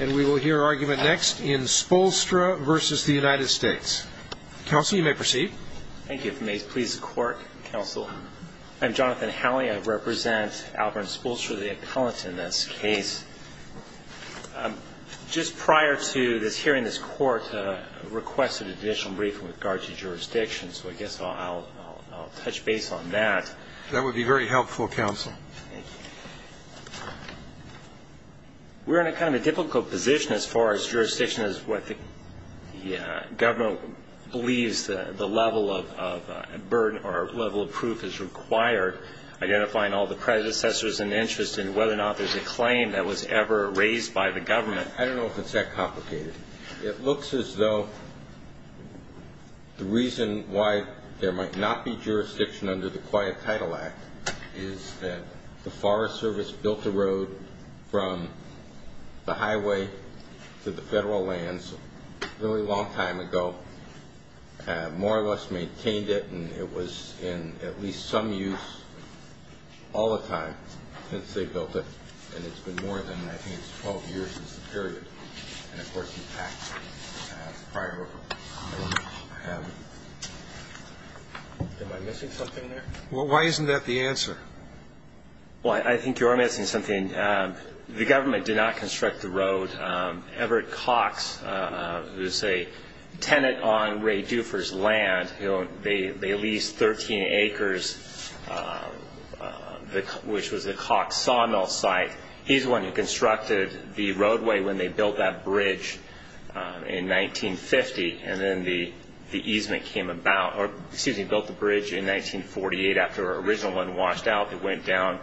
And we will hear argument next in Spoolstra v. United States. Counsel, you may proceed. Thank you. If you may please the court, counsel. I'm Jonathan Halley. I represent Albert and Spoolstra, the appellant in this case. Just prior to this hearing, this court requested an additional briefing with regard to jurisdiction. That would be very helpful, counsel. Thank you. We're in kind of a difficult position as far as jurisdiction is what the government believes the level of burden or level of proof is required, identifying all the predecessors and interest in whether or not there's a claim that was ever raised by the government. I don't know if it's that complicated. It looks as though the reason why there might not be jurisdiction under the Quiet Title Act is that the Forest Service built the road from the highway to the federal lands a really long time ago, more or less maintained it. And it was in at least some use all the time since they built it. And it's been more than, I think, 12 years is the period. And of course, in fact, prior to that, I have. Am I missing something there? Why isn't that the answer? Well, I think you're missing something. The government did not construct the road. Everett Cox, who's a tenant on Ray Dufour's land, they leased 13 acres, which was a Cox sawmill site. He's the one who constructed the roadway when they built that bridge in 1950. And then the easement came about, or excuse me, built the bridge in 1948 after an original one washed out. It went down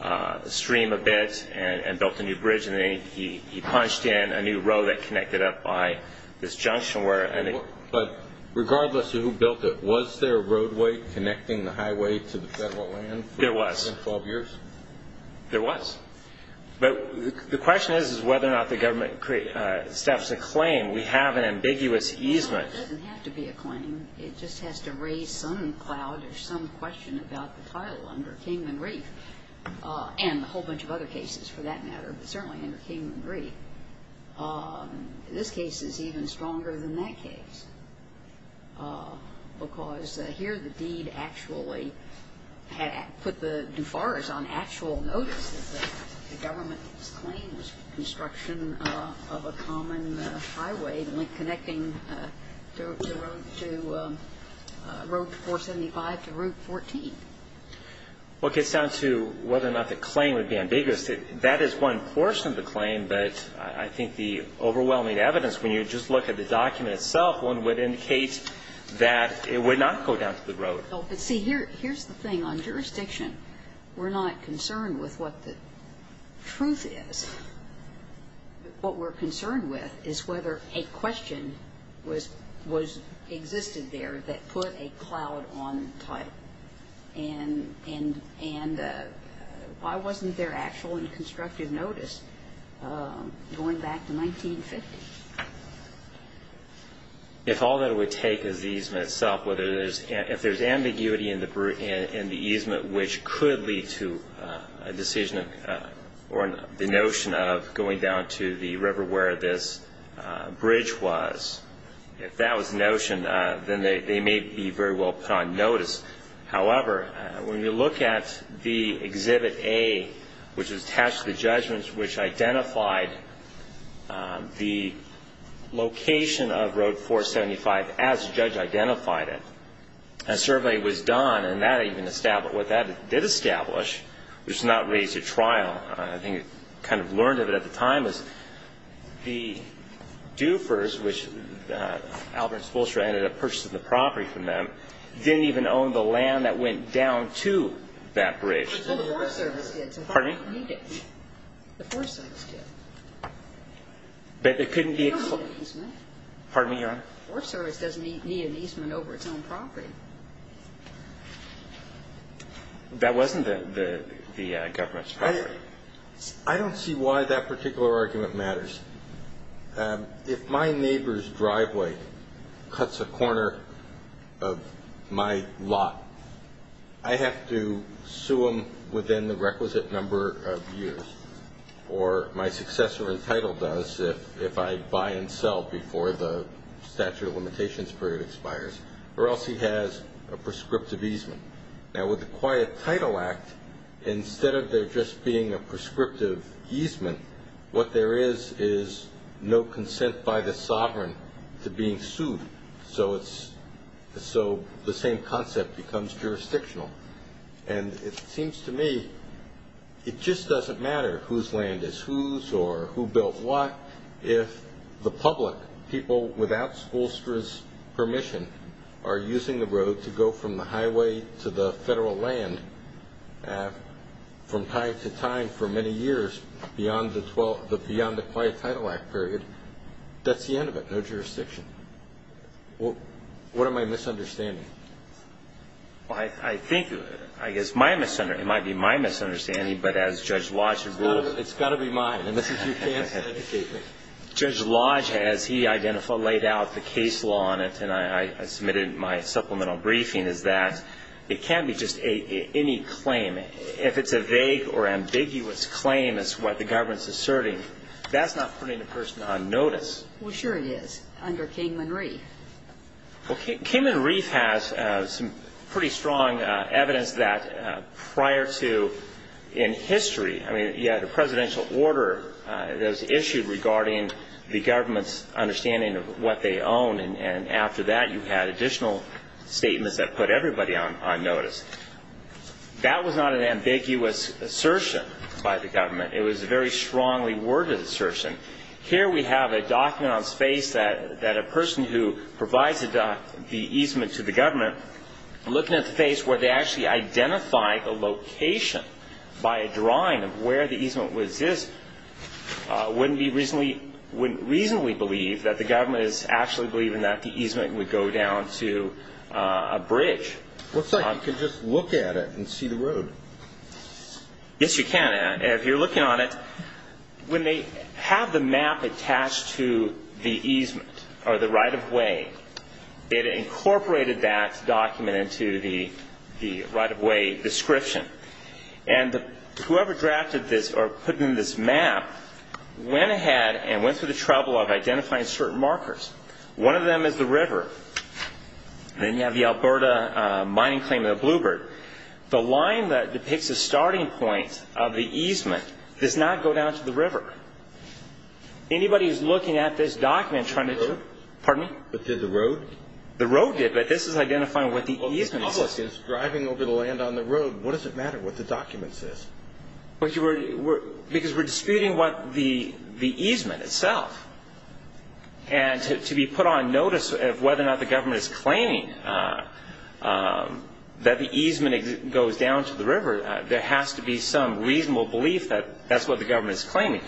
the stream a bit and built a new bridge. And then he punched in a new road that connected up by this junction where it ended. But regardless of who built it, was there a roadway connecting the highway to the federal land for more than 12 years? There was. There was. But the question is whether or not We have an ambiguous easement. It doesn't have to be a claim. It just has to raise some cloud or some question about the title under Kingman Reef and a whole bunch of other cases for that matter, but certainly under Kingman Reef. This case is even stronger than that case because here the deed actually put the Dufours on actual notice that the government's claim was construction of a common highway connecting Road 475 to Route 14. What gets down to whether or not the claim would be ambiguous, that is one portion of the claim. But I think the overwhelming evidence, when you just look at the document itself, one would indicate that it would not go down to the road. But see, here's the thing. On jurisdiction, we're not concerned with what the truth is. What we're concerned with is whether a question existed there that put a cloud on the title. And why wasn't there actual and constructive notice going back to 1950? If all that it would take is the easement itself, if there's ambiguity in the easement, which could lead to a decision or the notion of going down to the river where this bridge was. If that was the notion, then they may be very well put on notice. However, when you look at the Exhibit A, which is attached to the judgments which identified the location of Road 475 as the judge identified it, a survey was done and that even established what that did establish, which is not raise a trial. I think it kind of learned of it at the time is the Dufers, which Alberts Fulcher ended up purchasing the property from them, didn't even own the land that went down to that bridge. Well, the Forest Service did. Pardon me? The Forest Service did. But there couldn't be a claim. Pardon me, Your Honor? The Forest Service doesn't need an easement over its own property. That wasn't the government's priority. I don't see why that particular argument matters. If my neighbor's driveway cuts a corner of my lot, I have to sue him within the requisite number of years, or my successor in title does if I buy and sell before the statute of limitations period expires, or else he has a prescriptive easement. Now, with the Quiet Title Act, instead of there just being a prescriptive easement, what there is is no consent by the sovereign to being sued. So the same concept becomes jurisdictional. And it seems to me it just doesn't matter whose land is whose or who built what if the public, people without Fulcher's permission, are using the road to go from the highway to the federal land from time to time for many years beyond the Quiet Title Act period, that's the end of it. No jurisdiction. What am I misunderstanding? Well, I think, I guess, it might be my misunderstanding, but as Judge Lodge has ruled. It's got to be mine. And this is your chance to educate me. Judge Lodge, as he identified, laid out the case law on it. And I submitted my supplemental briefing is that it can't be just any claim. If it's a vague or ambiguous claim, that's what the government's asserting, that's not putting a person on notice. Well, sure it is under Kingman Reef. Well, Kingman Reef has some pretty strong evidence that prior to in history, I mean, you had a presidential order that was issued regarding the government's understanding of what they own. And after that, you had additional statements that put everybody on notice. That was not an ambiguous assertion by the government. It was a very strongly worded assertion. Here we have a document on space that a person who provides the easement to the government, looking at the face where they actually identify a location by a drawing of where the easement was is, wouldn't reasonably believe that the government is actually believing that the easement would go down to a bridge. Looks like you can just look at it and see the road. Yes, you can. If you're looking on it, when they have the map attached to the easement or the right of way, it incorporated that document into the right of way description. And whoever drafted this or put in this map went ahead and went through the trouble of identifying certain markers. One of them is the river. Then you have the Alberta mining claim of the Bluebird. The line that depicts a starting point of the easement does not go down to the river. Anybody who's looking at this document trying to do it. Pardon me? But did the road? The road did, but this is identifying what the easement is. Well, the public is driving over the land on the road. What does it matter what the document says? Because we're disputing what the easement itself. And to be put on notice of whether or not the government is claiming that the easement goes down to the river, there has to be some reasonable belief that that's what the government is claiming.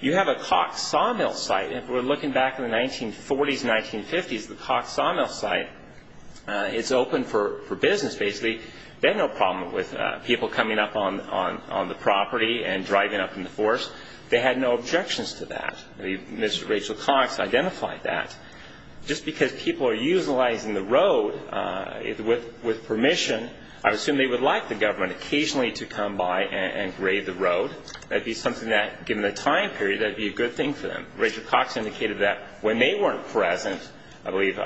You have a Cox Sawmill site. If we're looking back in the 1940s, 1950s, the Cox Sawmill site, it's open for business, basically. They had no problem with people coming up on the property and driving up in the forest. They had no objections to that. Mr. Rachel Cox identified that. Just because people are utilizing the road with permission, I assume they would like the government occasionally to come by and grade the road. That'd be something that, given the time period, that'd be a good thing for them. Rachel Cox indicated that when they weren't present, I believe,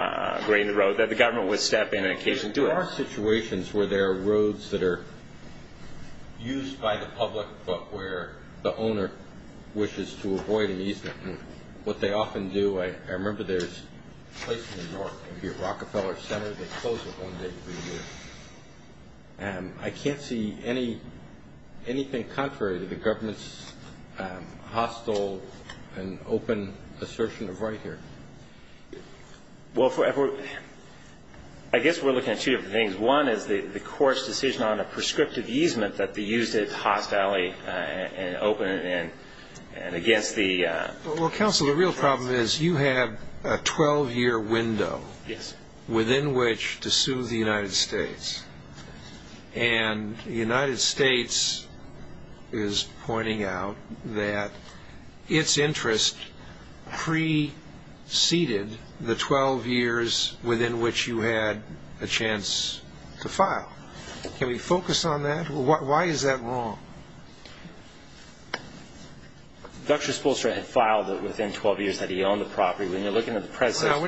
grading the road, that the government would step in and occasionally do it. There are situations where there are roads that are used by the public, but where the owner wishes to avoid an easement. What they often do, I remember there's places in New York, maybe at Rockefeller Center, they close it one day every year. I can't see anything contrary to the government's hostile and open assertion of right here. Well, I guess we're looking at two different things. One is the court's decision on a prescriptive easement that they used it hostilely and open and against the- Well, counsel, the real problem is you have a 12-year window within which to sue the United States. And the United States is pointing out that its interest preceded the 12 years within which you had a chance to file. Can we focus on that? Why is that wrong? Dr. Spolstra had filed within 12 years that he owned the property. When you're looking at the predecessor-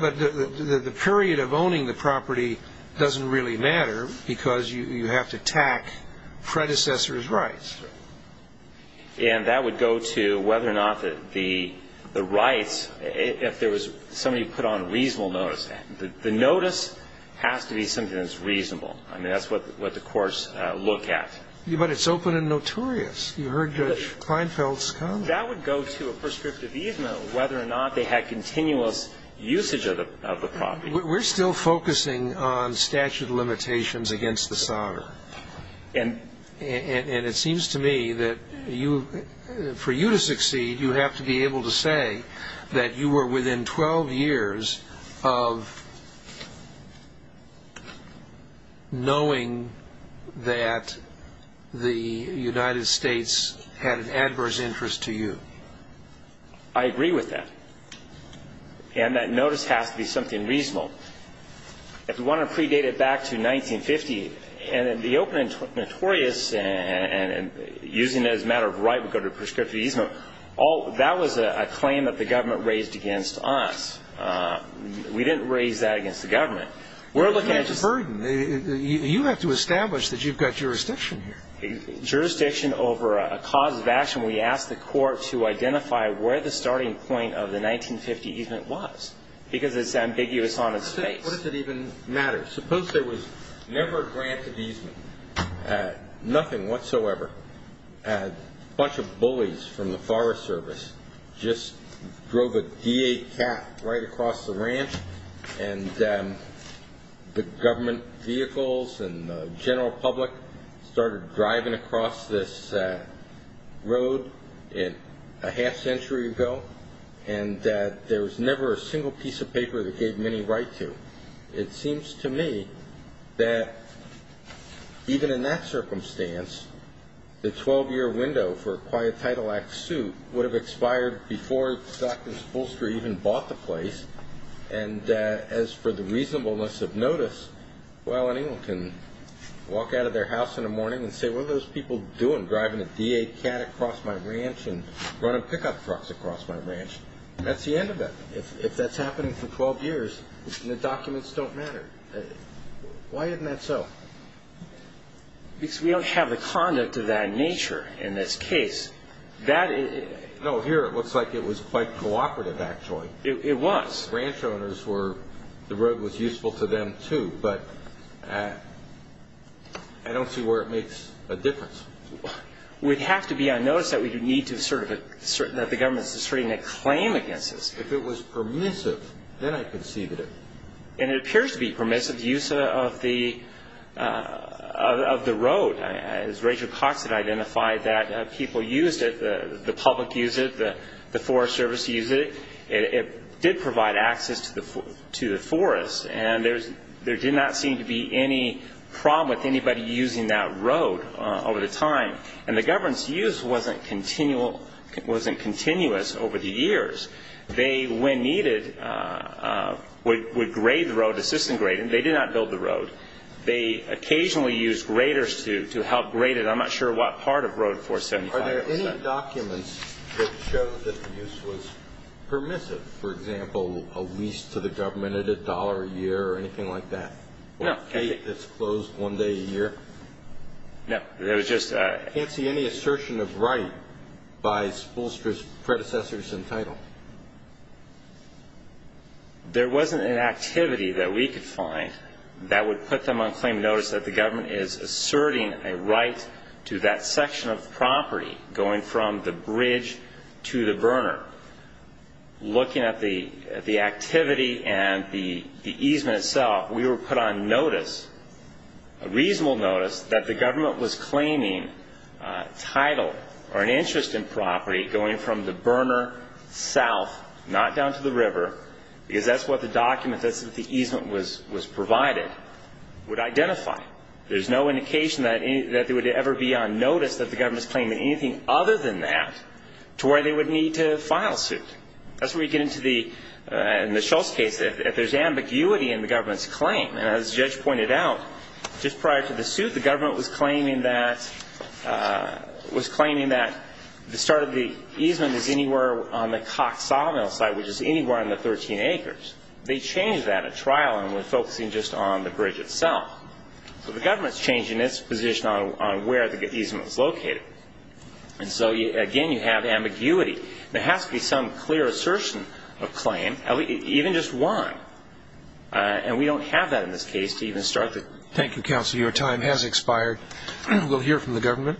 But the period of owning the property doesn't really matter, because you have to attack predecessor's rights. And that would go to whether or not that the rights, if there was somebody who put on a reasonable notice, the notice has to be something that's reasonable. I mean, that's what the courts look at. But it's open and notorious. You heard Judge Kleinfeld's comment. That would go to a prescriptive easement, whether or not they had continuous usage of the property. We're still focusing on statute of limitations against the sovereign. And it seems to me that for you to succeed, you have to be able to say that you were within 12 years of knowing that the United States had an adverse interest to you. I agree with that. And that notice has to be something reasonable. If you want to predate it back to 1950, and the open and notorious, and using it as a matter of right, would go to a prescriptive easement, that was a claim that the government raised against us. We didn't raise that against the government. We're looking at just- But that's a burden. You have to establish that you've got jurisdiction here. Jurisdiction over a cause of action. We asked the court to identify where the starting point of the 1950 easement was, because it's ambiguous on its face. What does it even matter? Suppose there was never a grant of easement, nothing whatsoever. A bunch of bullies from the Forest Service just drove a DA cat right across the ranch. And the government vehicles and the general public started driving across this road a half century ago. And there was never a single piece of paper that gave many right to. It seems to me that even in that circumstance, the 12-year window for a Quiet Title Act suit would have expired before Dr. Spolster even bought the place. And as for the reasonableness of notice, well, anyone can walk out of their house in the morning and say, what are those people doing driving a DA cat across my ranch and running pickup trucks across my ranch? That's the end of it. If that's happening for 12 years and the documents don't matter, why isn't that so? Because we don't have the conduct of that nature in this case. That is... No, here it looks like it was quite cooperative, actually. It was. The ranch owners were... The road was useful to them, too, but I don't see where it makes a difference. We'd have to be on notice that we do need to sort of... That the government is distributing a claim against us. If it was permissive, then I could see that it... And it appears to be permissive use of the road. As Rachel Cox had identified, that people used it, the public used it, the Forest Service used it. It did provide access to the forest, and there did not seem to be any problem with anybody using that road over the time. And the government's use wasn't continuous over the years. They, when needed, would grade the road, assist in grading. They did not build the road. They occasionally used graders to help grade it. I'm not sure what part of Road 475. Are there any documents that show that the use was permissive? For example, a lease to the government at a dollar a year or anything like that? No. Or a gate that's closed one day a year? No. There was just a... I can't see any assertion of right by Spoolster's predecessors entitled. There wasn't an activity that we could find that would put them on claim notice that the government is asserting a right to that section of property, going from the bridge to the burner. Looking at the activity and the easement itself, we were put on notice, a reasonable notice, that the government was claiming title or an interest in property going from the burner south, not down to the river, because that's what the document, that's what the easement was provided, would identify. There's no indication that they would ever be on notice that the government's claiming anything other than that to where they would need to file suit. That's where we get into the, in the Shultz case, if there's ambiguity in the government's claim. And as the judge pointed out, just prior to the suit, the government was claiming that, was claiming that the start of the easement is anywhere on the Cox Sawmill site, which is anywhere on the 13 acres. They changed that at trial and were focusing just on the bridge itself. So the government's changing its position on where the easement was located. And so, again, you have ambiguity. There has to be some clear assertion of claim, even just one. And we don't have that in this case to even start with. Thank you, counsel. Your time has expired. We'll hear from the government.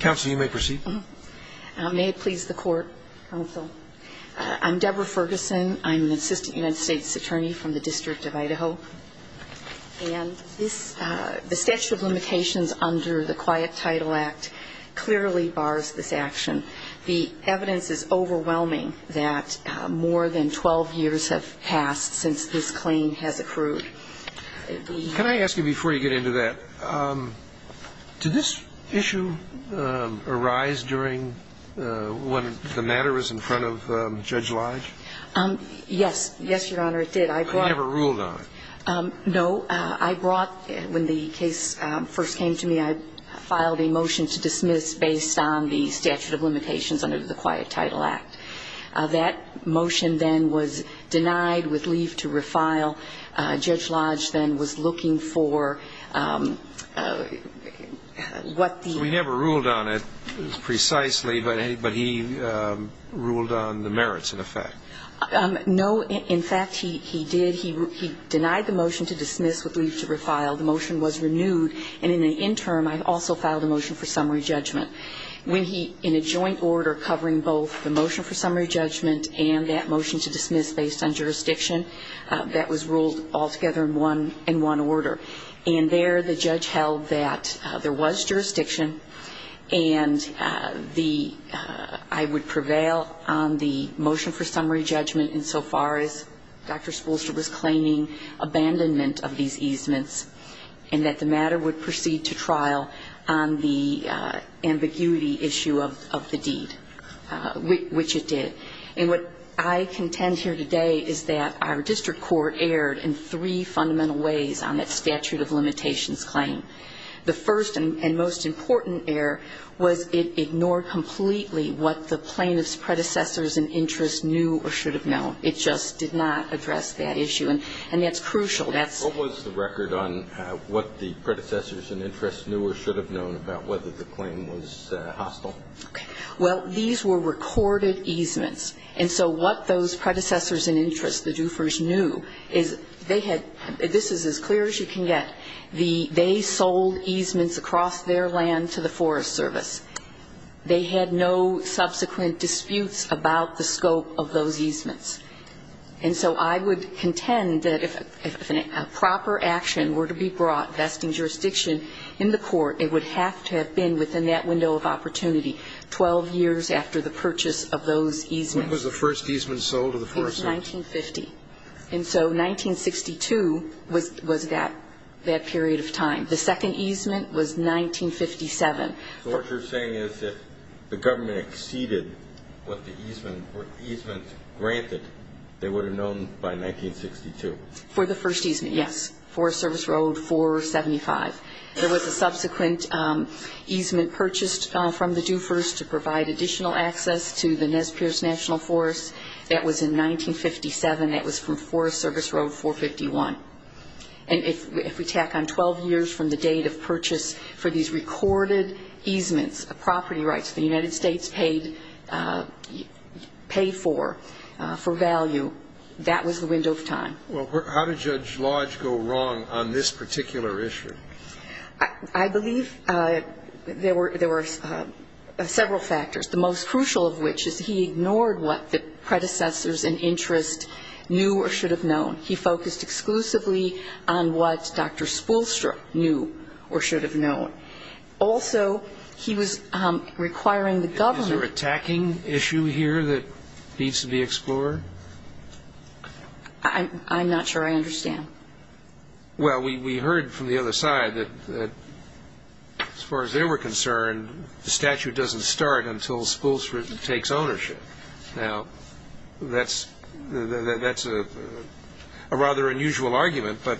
Counsel, you may proceed. May it please the court, counsel. I'm Deborah Ferguson. I'm an assistant United States attorney from the District of Idaho. And this, the statute of limitations under the Quiet Title Act clearly bars this action. The evidence is overwhelming that more than 12 years have passed since this claim has accrued. Can I ask you, before you get into that, did this issue arise during when the matter was in front of Judge Lodge? Yes, yes, your honor, it did. I brought- But you never ruled on it. No, I brought, when the case first came to me, I filed a motion to dismiss based on the statute of limitations under the Quiet Title Act. That motion then was denied with leave to refile. Judge Lodge then was looking for what the- We never ruled on it precisely, but he ruled on the merits, in effect. No, in fact, he did. He denied the motion to dismiss with leave to refile. The motion was renewed. And in the interim, I also filed a motion for summary judgment. When he, in a joint order, covering both the motion for summary judgment and that motion to dismiss based on jurisdiction, that was ruled altogether in one order. And there, the judge held that there was jurisdiction and I would prevail on the motion for summary judgment insofar as Dr. Spoolster was claiming abandonment of these easements and that the matter would proceed to trial on the ambiguity issue of the deed, which it did. And what I contend here today is that our district court erred in three fundamental ways on that statute of limitations claim. The first and most important error was it ignored completely what the plaintiff's predecessors and interests knew or should have known. It just did not address that issue. And that's crucial. That's- What was the record on what the predecessors and interests knew or should have known about whether the claim was hostile? Well, these were recorded easements. And so what those predecessors and interests, the doofers, knew is they had, this is as clear as you can get, they sold easements across their land to the Forest Service. They had no subsequent disputes about the scope of those easements. And so I would contend that if a proper action were to be brought vesting jurisdiction in the court, it would have to have been within that window of opportunity 12 years after the purchase of those easements. When was the first easement sold to the Forest Service? It was 1950. And so 1962 was that period of time. The second easement was 1957. So what you're saying is that the government exceeded what the easement granted, they would have known by 1962. For the first easement, yes. Forest Service Road 475. There was a subsequent easement purchased from the doofers to provide additional access to the Nez Perce National Forest. That was in 1957. That was from Forest Service Road 451. And if we tack on 12 years from the date of purchase for these recorded easements, a property rights the United States paid for, for value, that was the window of time. Well, how did Judge Lodge go wrong on this particular issue? I believe there were several factors, the most crucial of which is he ignored what the predecessors in interest knew or should have known. He focused exclusively on what Dr. Spoolstra knew or should have known. Also, he was requiring the government... Is there a tacking issue here that needs to be explored? I'm not sure I understand. Well, we heard from the other side that as far as they were concerned, the statute doesn't start until Spoolstra takes ownership. Now, that's a rather unusual argument, but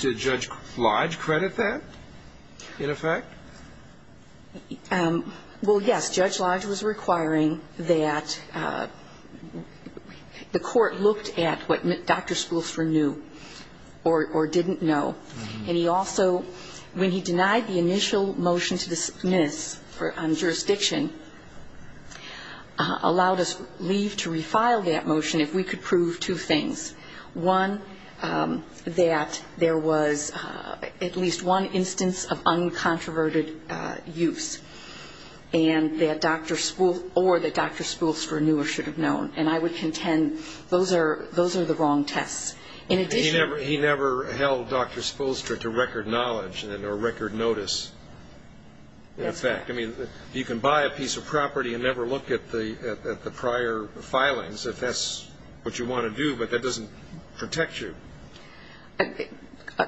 did Judge Lodge credit that, in effect? Well, yes, Judge Lodge was requiring that the court looked at what Dr. Spoolstra knew or didn't know. And he also, when he denied the initial motion to dismiss on jurisdiction, allowed us leave to refile that motion if we could prove two things. One, that there was at least one instance of uncontroverted use, or that Dr. Spoolstra knew or should have known. And I would contend those are the wrong tests. He never held Dr. Spoolstra to record knowledge or record notice, in effect. You can buy a piece of property and never look at the prior filings if that's what you want to do, but that doesn't protect you.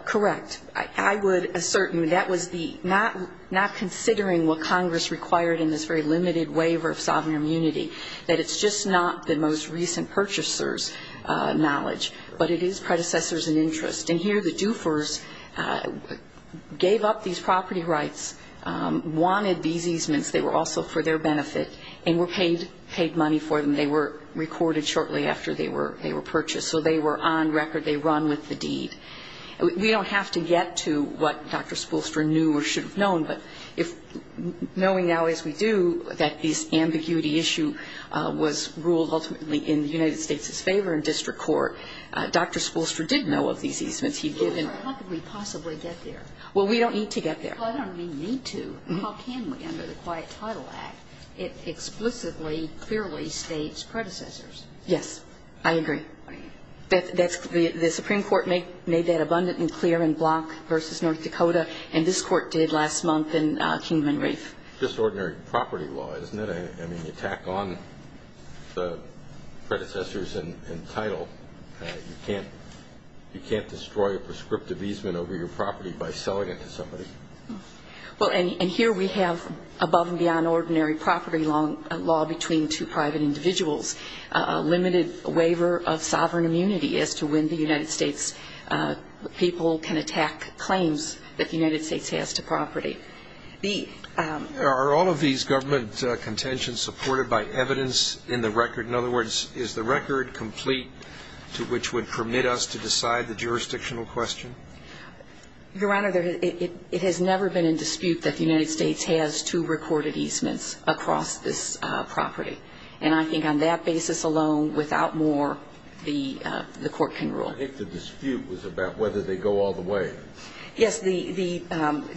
Correct. I would assert that that was not considering what Congress required in this very limited waiver of sovereign immunity, that it's just not the most recent purchaser's knowledge, but it is predecessors in interest. And here the doofers gave up these property rights, wanted these easements. They were also for their benefit and were paid money for them. They were recorded shortly after they were purchased, so they were on record. They run with the deed. We don't have to get to what Dr. Spoolstra knew or should have known, but knowing now as we do that this ambiguity issue was ruled ultimately in the United States' favor in district court, Dr. Spoolstra did know of these easements he'd given. How could we possibly get there? Well, we don't need to get there. I don't mean need to. How can we under the Quiet Title Act? It explicitly, clearly states predecessors. Yes. I agree. The Supreme Court made that abundant and clear in Block v. North Dakota, and this court did last month in Kingman Reef. Just ordinary property law, isn't it? I mean, you tack on the predecessors and title. You can't destroy a prescriptive easement over your property by selling it to somebody. Well, and here we have above and beyond ordinary property law between two private individuals. A limited waiver of sovereign immunity as to when the United States people can attack claims that the United States has to property. Are all of these government contentions supported by evidence in the record? In other words, is the record complete to which would permit us to decide the jurisdictional question? Your Honor, it has never been in dispute that the United States has two recorded easements across this property, and I think on that basis alone, without more, the court can rule. I think the dispute was about whether they go all the way. Yes. The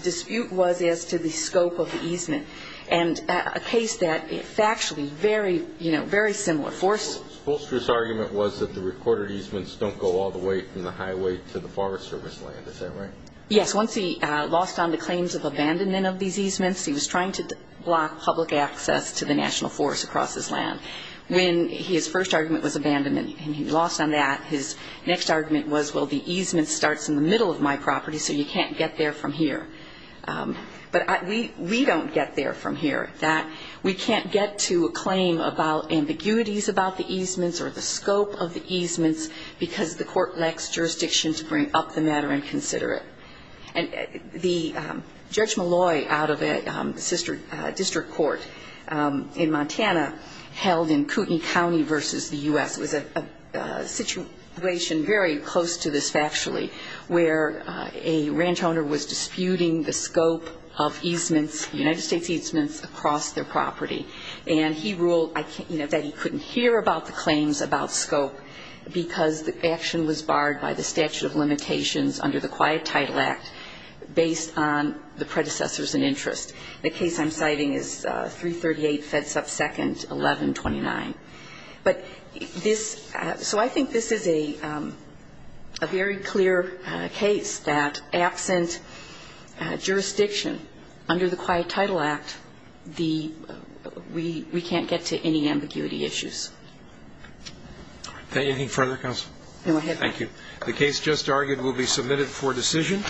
dispute was as to the scope of the easement, and a case that factually very similar. Forrester's argument was that the recorded easements don't go all the way from the highway to the Forest Service land. Is that right? Yes. Once he lost on the claims of abandonment of these easements, he was trying to block public access to the National Forest across his land. When his first argument was abandonment, and he lost on that, his next argument was, well, the easement starts in the middle of my property, so you can't get there from here. But we don't get there from here. We can't get to a claim about ambiguities about the easements or the scope of the easements because the court lacks jurisdiction to bring up the matter and consider it. And Judge Malloy out of a district court in Montana held in Kootenai County versus the U.S. was a situation very close to this factually where a ranch owner was disputing the scope of easements, United States easements, across their property. And he ruled that he couldn't hear about the claims about scope because the action was barred by the statute of limitations under the Quiet Title Act based on the predecessors in interest. The case I'm citing is 338 Fedsup 2nd, 1129. So I think this is a very clear case that absent jurisdiction under the Quiet Title Act, we can't get to any ambiguity issues. Is there anything further, counsel? Go ahead. Thank you. The case just argued will be submitted for decision.